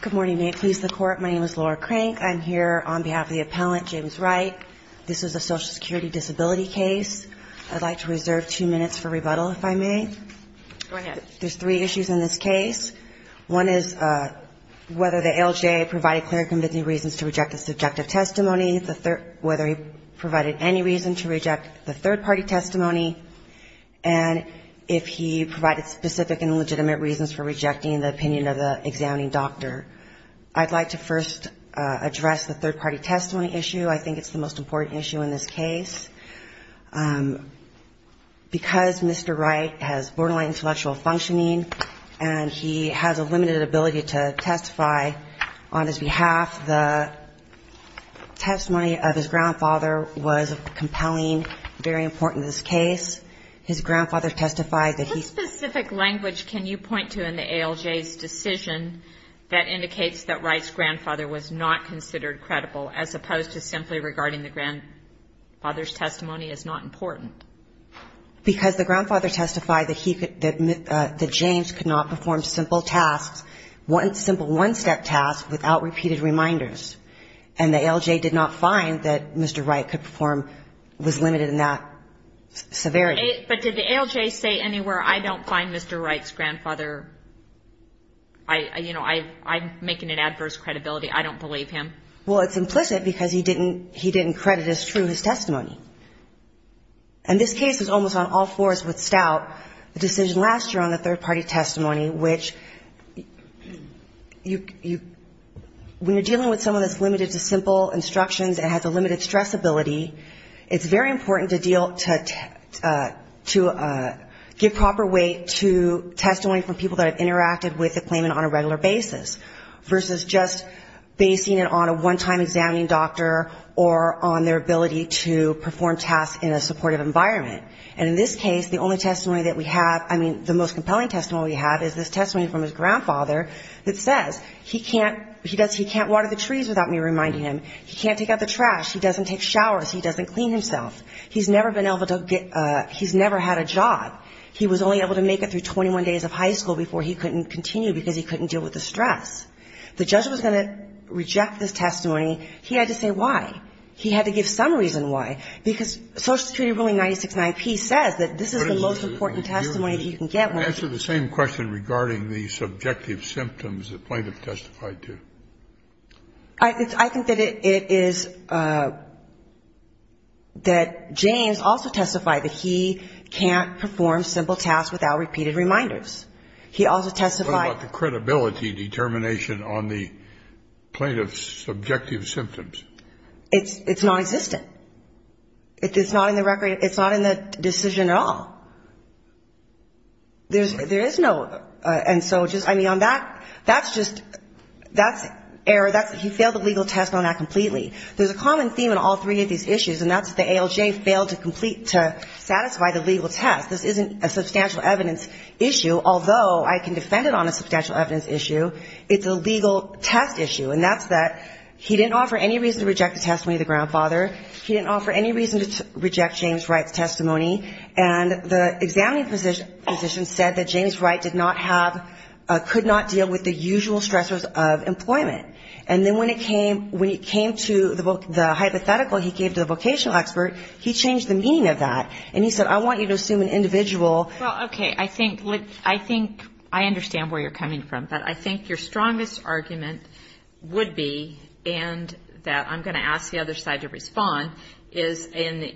Good morning. May it please the court. My name is Laura Crank. I'm here on behalf of the appellant, James Wright. This is a social security disability case. I'd like to reserve two minutes for rebuttal, if I may. There's three issues in this case. One is whether the LJ provided clear and convincing reasons to reject a subjective testimony, whether he provided any reason to reject the third-party testimony, and if he provided specific and legitimate reasons for rejecting the opinion of the examining doctor. I'd like to first address the third-party testimony issue. I think it's the most important issue in this case. Because Mr. Wright has borderline intellectual functioning and he has a limited ability to testify on his behalf, the testimony of his grandfather was compelling, very important in this case. His grandfather testified that he What specific language can you point to in the ALJ's decision that indicates that Wright's grandfather was not considered credible, as opposed to simply regarding the grandfather's testimony as not important? Because the grandfather testified that he could, that James could not perform simple tasks, simple one-step tasks without repeated reminders. And the ALJ did not find that Mr. Wright could perform, was limited in that severity. But did the ALJ say anywhere, I don't find Mr. Wright's grandfather, I, you know, I'm making an adverse credibility, I don't believe him? Well, it's implicit because he didn't, he didn't credit as true his testimony. And this case is almost on all fours with Stout, the decision last year on the third-party testimony, which you, when you're dealing with someone that's limited to simple instructions and has a limited stress ability, it's very important to deal, to give proper weight to testimony from people that have interacted with the claimant on a regular basis, versus just basing it on a one-step task. On a one-time examining doctor or on their ability to perform tasks in a supportive environment. And in this case, the only testimony that we have, I mean, the most compelling testimony we have is this testimony from his grandfather that says he can't, he can't water the trees without me reminding him, he can't take out the trash, he doesn't take showers, he doesn't clean himself, he's never been able to get, he's never had a job, he was only able to make it through 21 days of high school before he couldn't continue because he couldn't deal with the stress. The judge was going to reject this testimony. He had to say why. He had to give some reason why, because Social Security ruling 969P says that this is the most important testimony that you can get when you're doing this. Kennedy, you answered the same question regarding the subjective symptoms the plaintiff testified to. I think that it is, that James also testified that he can't perform simple tasks without repeated reminders. Is there any indication on the plaintiff's subjective symptoms? It's non-existent. It's not in the record, it's not in the decision at all. There is no, and so just, I mean, on that, that's just, that's error, he failed the legal test on that completely. There's a common theme in all three of these issues, and that's the ALJ failed to complete, to satisfy the legal test. This isn't a substantial evidence issue, although I can defend it on a substantial evidence issue. It's a legal test issue, and that's that he didn't offer any reason to reject the testimony of the grandfather. He didn't offer any reason to reject James Wright's testimony. And the examining physician said that James Wright did not have, could not deal with the usual stressors of employment. And then when it came, when it came to the hypothetical he gave to the vocational expert, he changed the meaning of that. And he said, I want you to assume an individual. Well, okay. I think, I think, I understand where you're coming from, but I think your strongest argument would be, and that I'm going to ask the other side to respond, is, and the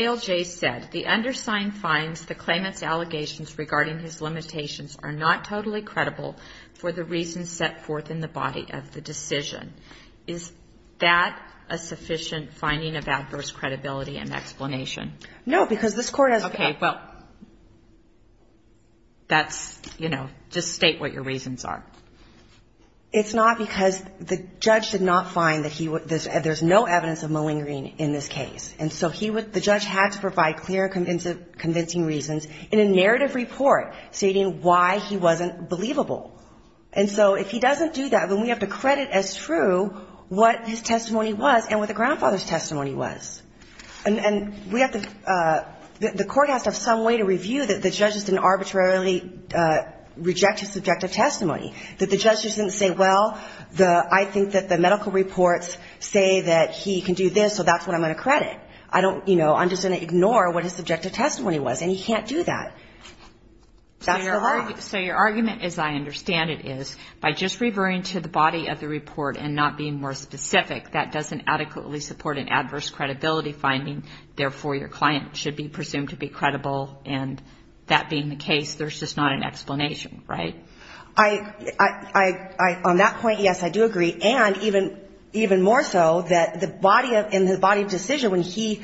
ALJ said, the undersigned finds the claimant's allegations regarding his limitations are not totally credible for the reasons set forth in the body of the decision. Is that a sufficient finding of adverse credibility and explanation? No, because this court has. Okay. Well, that's, you know, just state what your reasons are. It's not because the judge did not find that he, there's no evidence of malingering in this case. And so he would, the judge had to provide clear, convincing reasons in a narrative report stating why he wasn't believable. And so if he doesn't do that, then we have to credit as true what his testimony was and what the grandfather's testimony was. And we have to, the court has to have some way to review that the judge didn't arbitrarily reject his subjective testimony, that the judge didn't say, well, the, I think that the medical reports say that he can do this, so that's what I'm going to credit. I don't, you know, I'm just going to ignore what his subjective testimony was. And he can't do that. That's the law. So your argument, as I understand it, is by just reverting to the body of the report and not being more specific, that doesn't adequately support an adverse credibility finding. Therefore, your client should be presumed to be credible. And that being the case, there's just not an explanation, right? I, on that point, yes, I do agree. And even more so that the body of, in the body of decision when he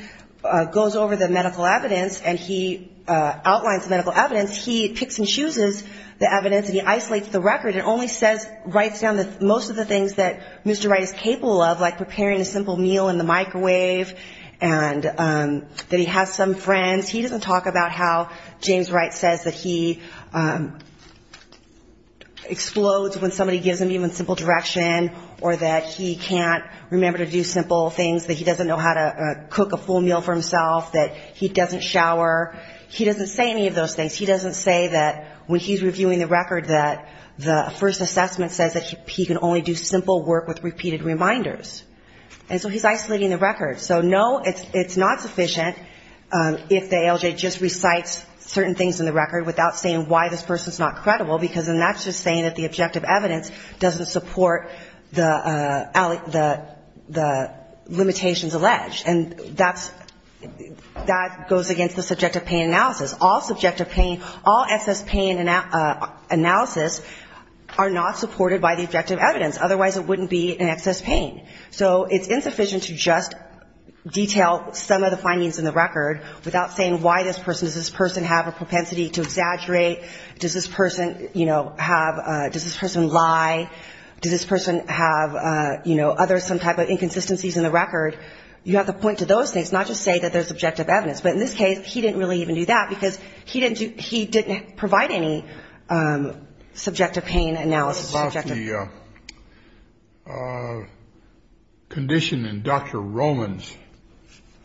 goes over the medical evidence and he outlines the medical evidence, he picks and chooses the evidence and he isolates the record and only says, writes down most of the things that Mr. Wright is capable of, like preparing a simple meal in the microwave, and that he has some friends. He doesn't talk about how James Wright says that he explodes when somebody gives him even simple direction or that he can't remember to do simple things, that he doesn't know how to cook a full meal for himself, that he doesn't shower. He doesn't say any of those things. He doesn't say that when he's reviewing the record that the first assessment says that he can only do simple work with repeated reminders. And so he's isolating the record. So no, it's not sufficient if the ALJ just recites certain things in the record without saying why this person's not credible, because then that's just saying that the objective evidence doesn't support the limitations alleged. And that's, that goes against the subjective pain analysis. All subjective pain, all excess pain analysis are not supported by the objective evidence. Otherwise, it wouldn't be an excess pain. So it's insufficient to just detail some of the findings in the record without saying why this person, does this person have a propensity to exaggerate, does this person, you know, have, does this person lie, does this person have, you know, other some type of inconsistencies in the record. You have to point to those things, not just say that there's objective evidence. But in this case, he didn't really even do that because he didn't do, he didn't provide any subjective pain analysis. About the condition in Dr. Roman's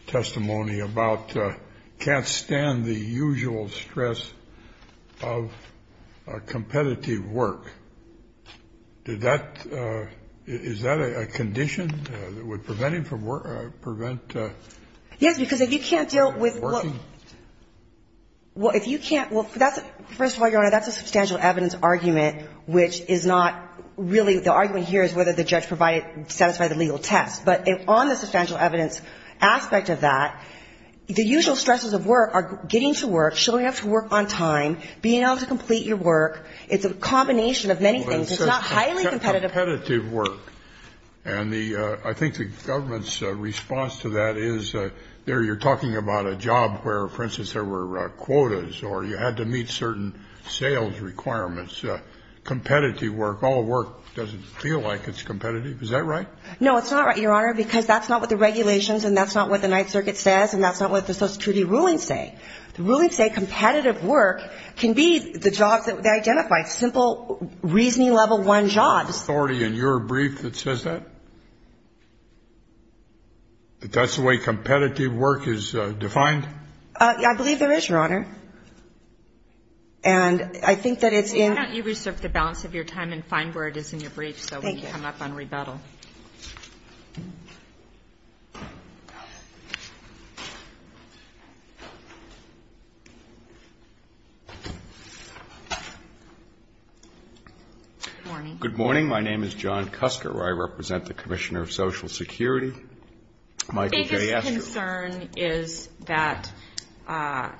testimony about can't stand the usual stress of competitive work. Did that, is that a condition that would prevent him from work, prevent. Yes, because if you can't deal with. Well, if you can't, well, that's, first of all, Your Honor, that's a substantial evidence argument, which is not really, the argument here is whether the judge provided, satisfied the legal test. But on the substantial evidence aspect of that, the usual stresses of work are getting to work, showing up to work on time, being able to complete your work. It's a combination of many things. It's not highly competitive. Competitive work. And the, I think the government's response to that is, there you're talking about a job where, for instance, there were quotas or you had to meet certain sales requirements. Competitive work, all work doesn't feel like it's competitive. Is that right? No, it's not right, Your Honor, because that's not what the regulations and that's not what the Ninth Circuit says and that's not what the Social Security rulings say. The rulings say competitive work can be the jobs that they identify, simple reasoning level one jobs. The authority in your brief that says that? That that's the way competitive work is defined? I believe there is, Your Honor. And I think that it's in. Why don't you research the balance of your time and find where it is in your brief so we can come up on rebuttal. Thank you. Good morning. Good morning. My name is John Custer. I represent the Commissioner of Social Security. My biggest concern is that, I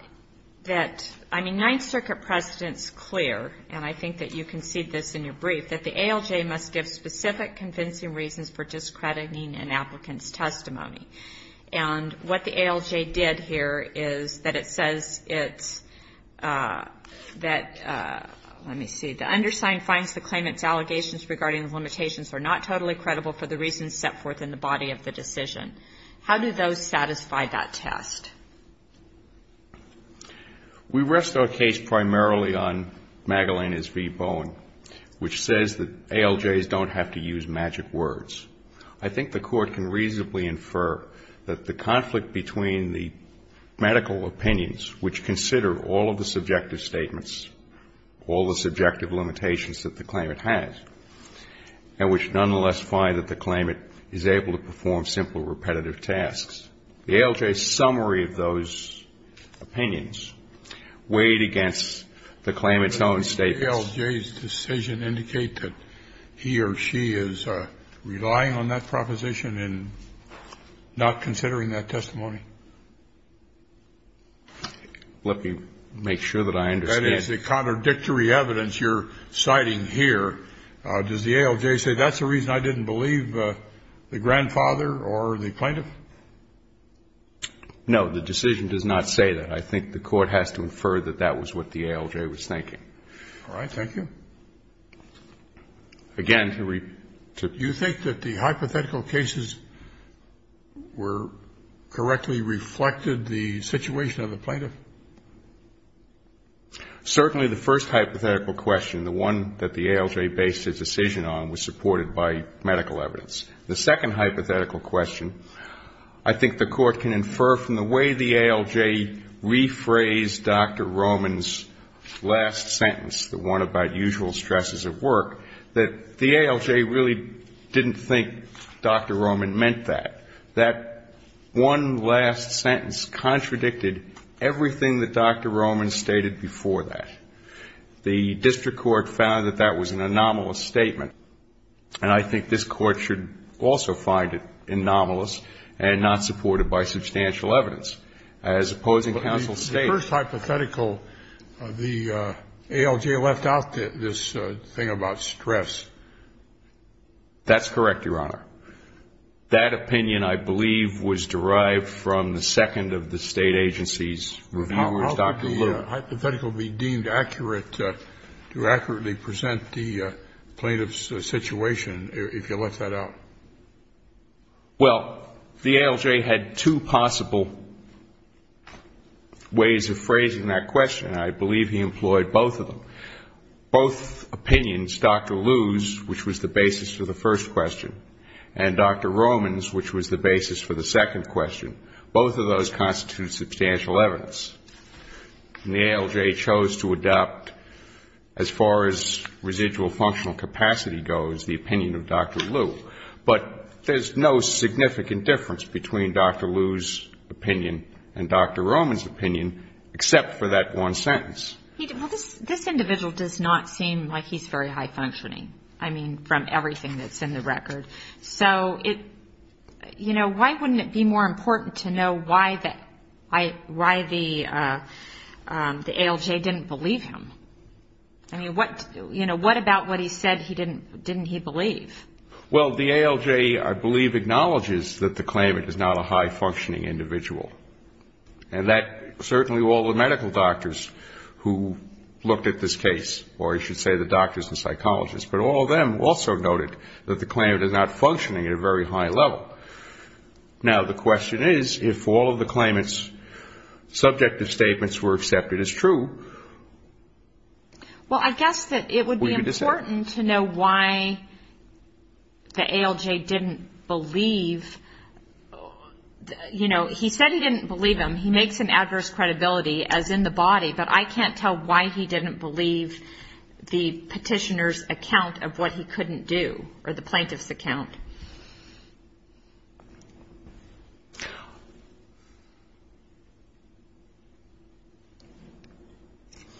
mean, Ninth Circuit precedent is clear, and I think that you concede this in your brief, that the ALJ must give specific convincing reasons for discrediting an applicant's testimony. And what the ALJ did here is that it says it's that, let me see, the undersigned finds the claimant's allegations regarding the limitations are not totally credible for the reasons set forth in the body of the decision. How do those satisfy that test? We rest our case primarily on Magalena's v. Bowen, which says that ALJs don't have to use magic words. I think the Court can reasonably infer that the conflict between the medical opinions, which consider all of the subjective statements, all the subjective limitations that the claimant has, and which nonetheless find that the claimant is able to perform simple repetitive tasks. The ALJ's summary of those opinions weighed against the claimant's own statements. Does the ALJ's decision indicate that he or she is relying on that proposition and not considering that testimony? Let me make sure that I understand. That is the contradictory evidence you're citing here. Does the ALJ say that's the reason I didn't believe the grandfather or the plaintiff? No, the decision does not say that. I think the Court has to infer that that was what the ALJ was thinking. All right. Thank you. Again, to repeat. Do you think that the hypothetical cases were correctly reflected the situation of the plaintiff? Certainly the first hypothetical question, the one that the ALJ based its decision on, was supported by medical evidence. The second hypothetical question, I think the Court can infer from the way the ALJ rephrased Dr. Roman's last sentence, the one about usual stresses of work, that the ALJ really didn't think Dr. Roman meant that. That one last sentence contradicted everything that Dr. Roman stated before that. The district court found that that was an anomalous statement, and I think this Court should also find it anomalous and not supported by substantial evidence. As opposing counsel stated the first hypothetical, the ALJ left out this thing about stress. That's correct, Your Honor. That opinion, I believe, was derived from the second of the State agency's reviewers, Dr. Luce. How could the hypothetical be deemed accurate to accurately present the plaintiff's situation, if you let that out? Well, the ALJ had two possible ways of phrasing that question, and I believe he employed both of them. Both opinions, Dr. Luce's, which was the basis for the first question, and Dr. Roman's, which was the basis for the second question, both of those constitute substantial evidence. And the ALJ chose to adopt, as far as residual functional capacity goes, the opinion of Dr. Luce. But there's no significant difference between Dr. Luce's opinion and Dr. Roman's opinion, except for that one sentence. Well, this individual does not seem like he's very high-functioning, I mean, from everything that's in the record. So, you know, why wouldn't it be more important to know why the ALJ didn't believe him? I mean, what about what he said didn't he believe? Well, the ALJ, I believe, acknowledges that the claimant is not a high-functioning individual, and that certainly all the medical doctors who looked at this case, or I should say the doctors and psychologists, but all of them also noted that the claimant is not functioning at a very high level. Now, the question is, if all of the claimant's subjective statements were accepted as true, we could decide. Well, I guess that it would be important to know why the ALJ didn't believe, you know, he said he didn't believe him, he makes an adverse credibility as in the body, but I can't tell why he didn't believe the petitioner's account of what he couldn't do, or the plaintiff's account.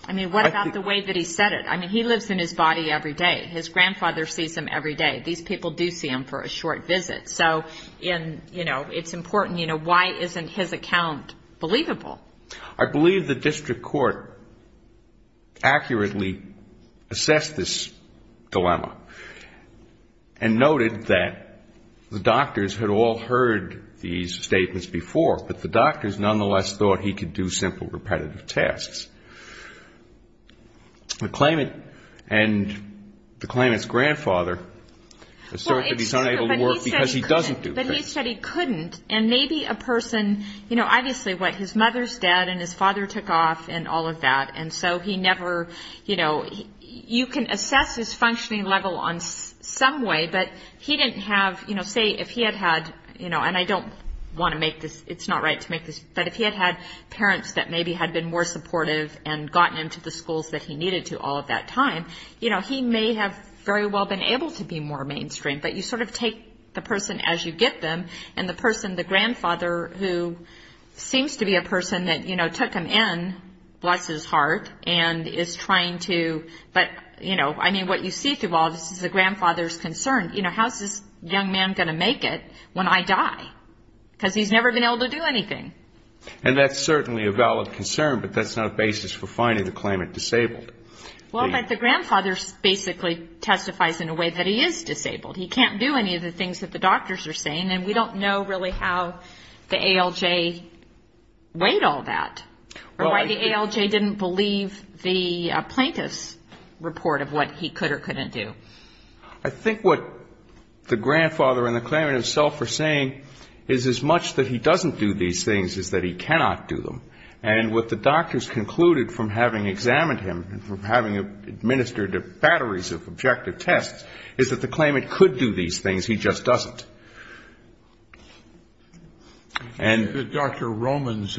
I mean, what about the way that he said it? I mean, he lives in his body every day. His grandfather sees him every day. These people do see him for a short visit. So, you know, it's important, you know, why isn't his account believable? I believe the district court accurately assessed this dilemma and noted that the doctors had all heard these statements before, but the doctors nonetheless thought he could do simple repetitive tasks. The claimant and the claimant's grandfather assert that he's unable to work because he doesn't do things. But he said he couldn't, and maybe a person, you know, obviously what his mother's dead and his father took off and all of that, and so he never, you know, you can assess his functioning level on some way, but he didn't have, you know, say if he had had, you know, and I don't want to make this, it's not right to make this, but if he had had parents that maybe had been more supportive and gotten him to the schools that he needed to all of that time, you know, he may have very well been able to be more mainstream. But you sort of take the person as you get them, and the person, the grandfather, who seems to be a person that, you know, took him in, bless his heart, and is trying to, but, you know, I mean, what you see through all of this is the grandfather's concern. You know, how's this young man going to make it when I die? Because he's never been able to do anything. And that's certainly a valid concern, but that's not a basis for finding the claimant disabled. Well, but the grandfather basically testifies in a way that he is disabled. He can't do any of the things that the doctors are saying, and we don't know really how the ALJ weighed all that, or why the ALJ didn't believe the plaintiff's report of what he could or couldn't do. I think what the grandfather and the claimant himself are saying is as much that he doesn't do these things as that he cannot do them. And what the doctors concluded from having examined him and from having administered batteries of objective tests is that the claimant could do these things, he just doesn't. And Dr. Roman's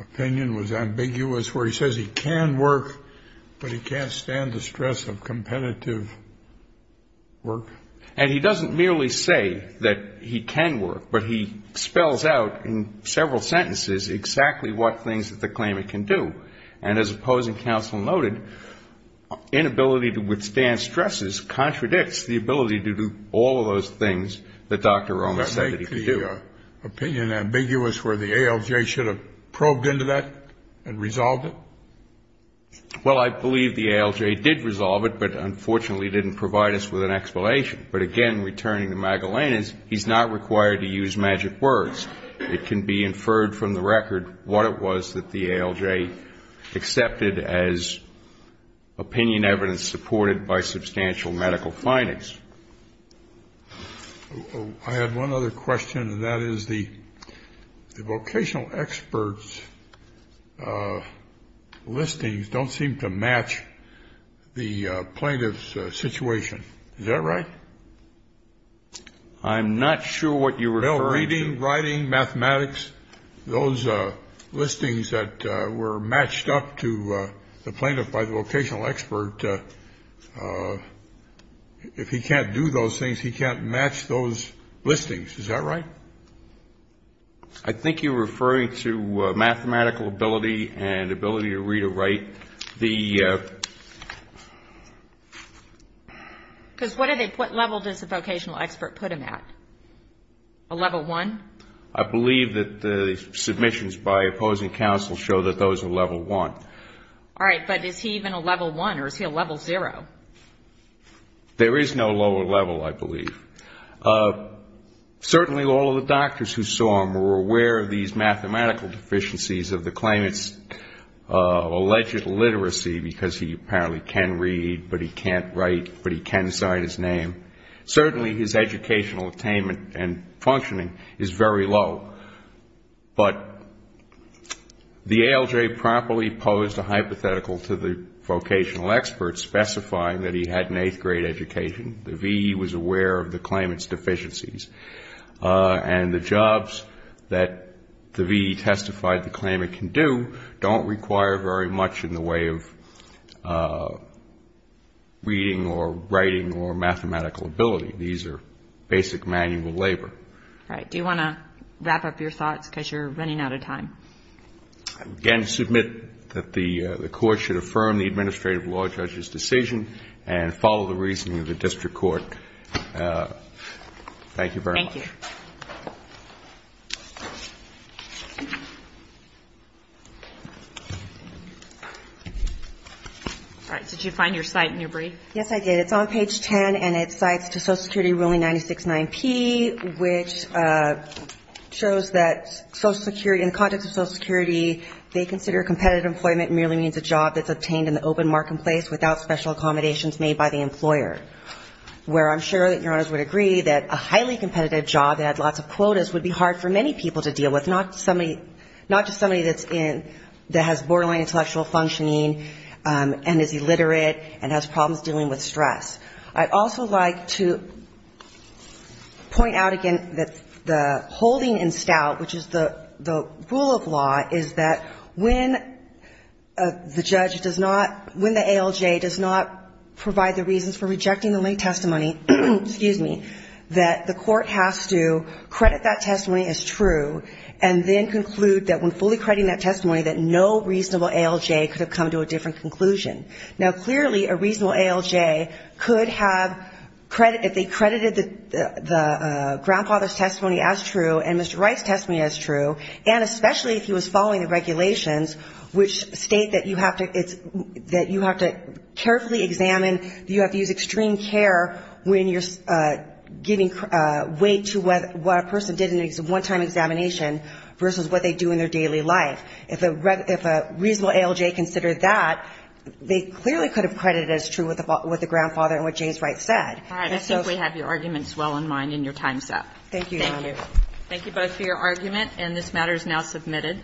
opinion was ambiguous, where he says he can work, but he can't stand the stress of competitive work. And he doesn't merely say that he can work, but he spells out in several sentences exactly what things that the claimant can do. And as opposing counsel noted, inability to withstand stresses contradicts the ability to do all of those things that Dr. Roman said that he could do. The opinion ambiguous where the ALJ should have probed into that and resolved it? Well, I believe the ALJ did resolve it, but unfortunately didn't provide us with an explanation. But again, returning to Magellana's, he's not required to use magic words. It can be inferred from the record what it was that the ALJ accepted as opinion evidence supported by substantial medical findings. I had one other question, and that is the vocational experts' listings don't seem to match the plaintiff's situation. Is that right? I'm not sure what you're referring to. Bill, reading, writing, mathematics, those listings that were matched up to the plaintiff by the vocational expert, if he can't do those things, he can't match those listings. Is that right? I think you're referring to mathematical ability and ability to read or write. Because what level does the vocational expert put him at? A level one? I believe that the submissions by opposing counsel show that those are level one. All right. But is he even a level one, or is he a level zero? There is no lower level, I believe. Certainly all of the doctors who saw him were aware of these mathematical deficiencies of the claimant's alleged literacy, because he apparently can read, but he can't write, but he can sign his name. Certainly his educational attainment and functioning is very low. But the ALJ promptly posed a hypothetical to the vocational expert specifying that he had an eighth-grade education. The VE was aware of the claimant's deficiencies. And the jobs that the VE testified the claimant can do don't require very much in the way of reading or writing or mathematical ability. These are basic manual labor. All right. Do you want to wrap up your thoughts, because you're running out of time? Again, I submit that the Court should affirm the administrative law judge's decision and follow the reasoning of the district court. Thank you very much. Thank you. All right. Did you find your cite in your brief? Yes, I did. It's on page 10, and it cites to Social Security ruling 969P, which shows that Social Security, in the context of Social Security, they consider competitive employment merely means a job that's obtained in the open marketplace without special accommodations made by the employer, where I'm sure that Your Honors would agree that a highly competitive job that has lots of quotas would be hard for many people to deal with, not somebody, not just somebody that's in, that has borderline intellectual functioning and is illiterate and has problems dealing with stress. I'd also like to point out again that the holding in stout, which is the rule of law, is that when the judge does not, when the ALJ does not provide the reasons for rejecting the late testimony, excuse me, that the Court has to credit that testimony as true and then conclude that when fully crediting that testimony that no reasonable ALJ could have come to a different conclusion. Now, clearly, a reasonable ALJ could have, if they credited the grandfather's testimony as true and Mr. Wright's testimony as true, and especially if he was following the regulations, which state that you have to carefully examine, you have to use extreme care when you're giving weight to what a person did in a one-time examination versus what they do in their daily life. If a reasonable ALJ considered that, they clearly could have credited as true what the grandfather and what James Wright said. And so we have your arguments well in mind in your time set. Thank you, Your Honor. Thank you. Thank you both for your argument, and this matter is now submitted.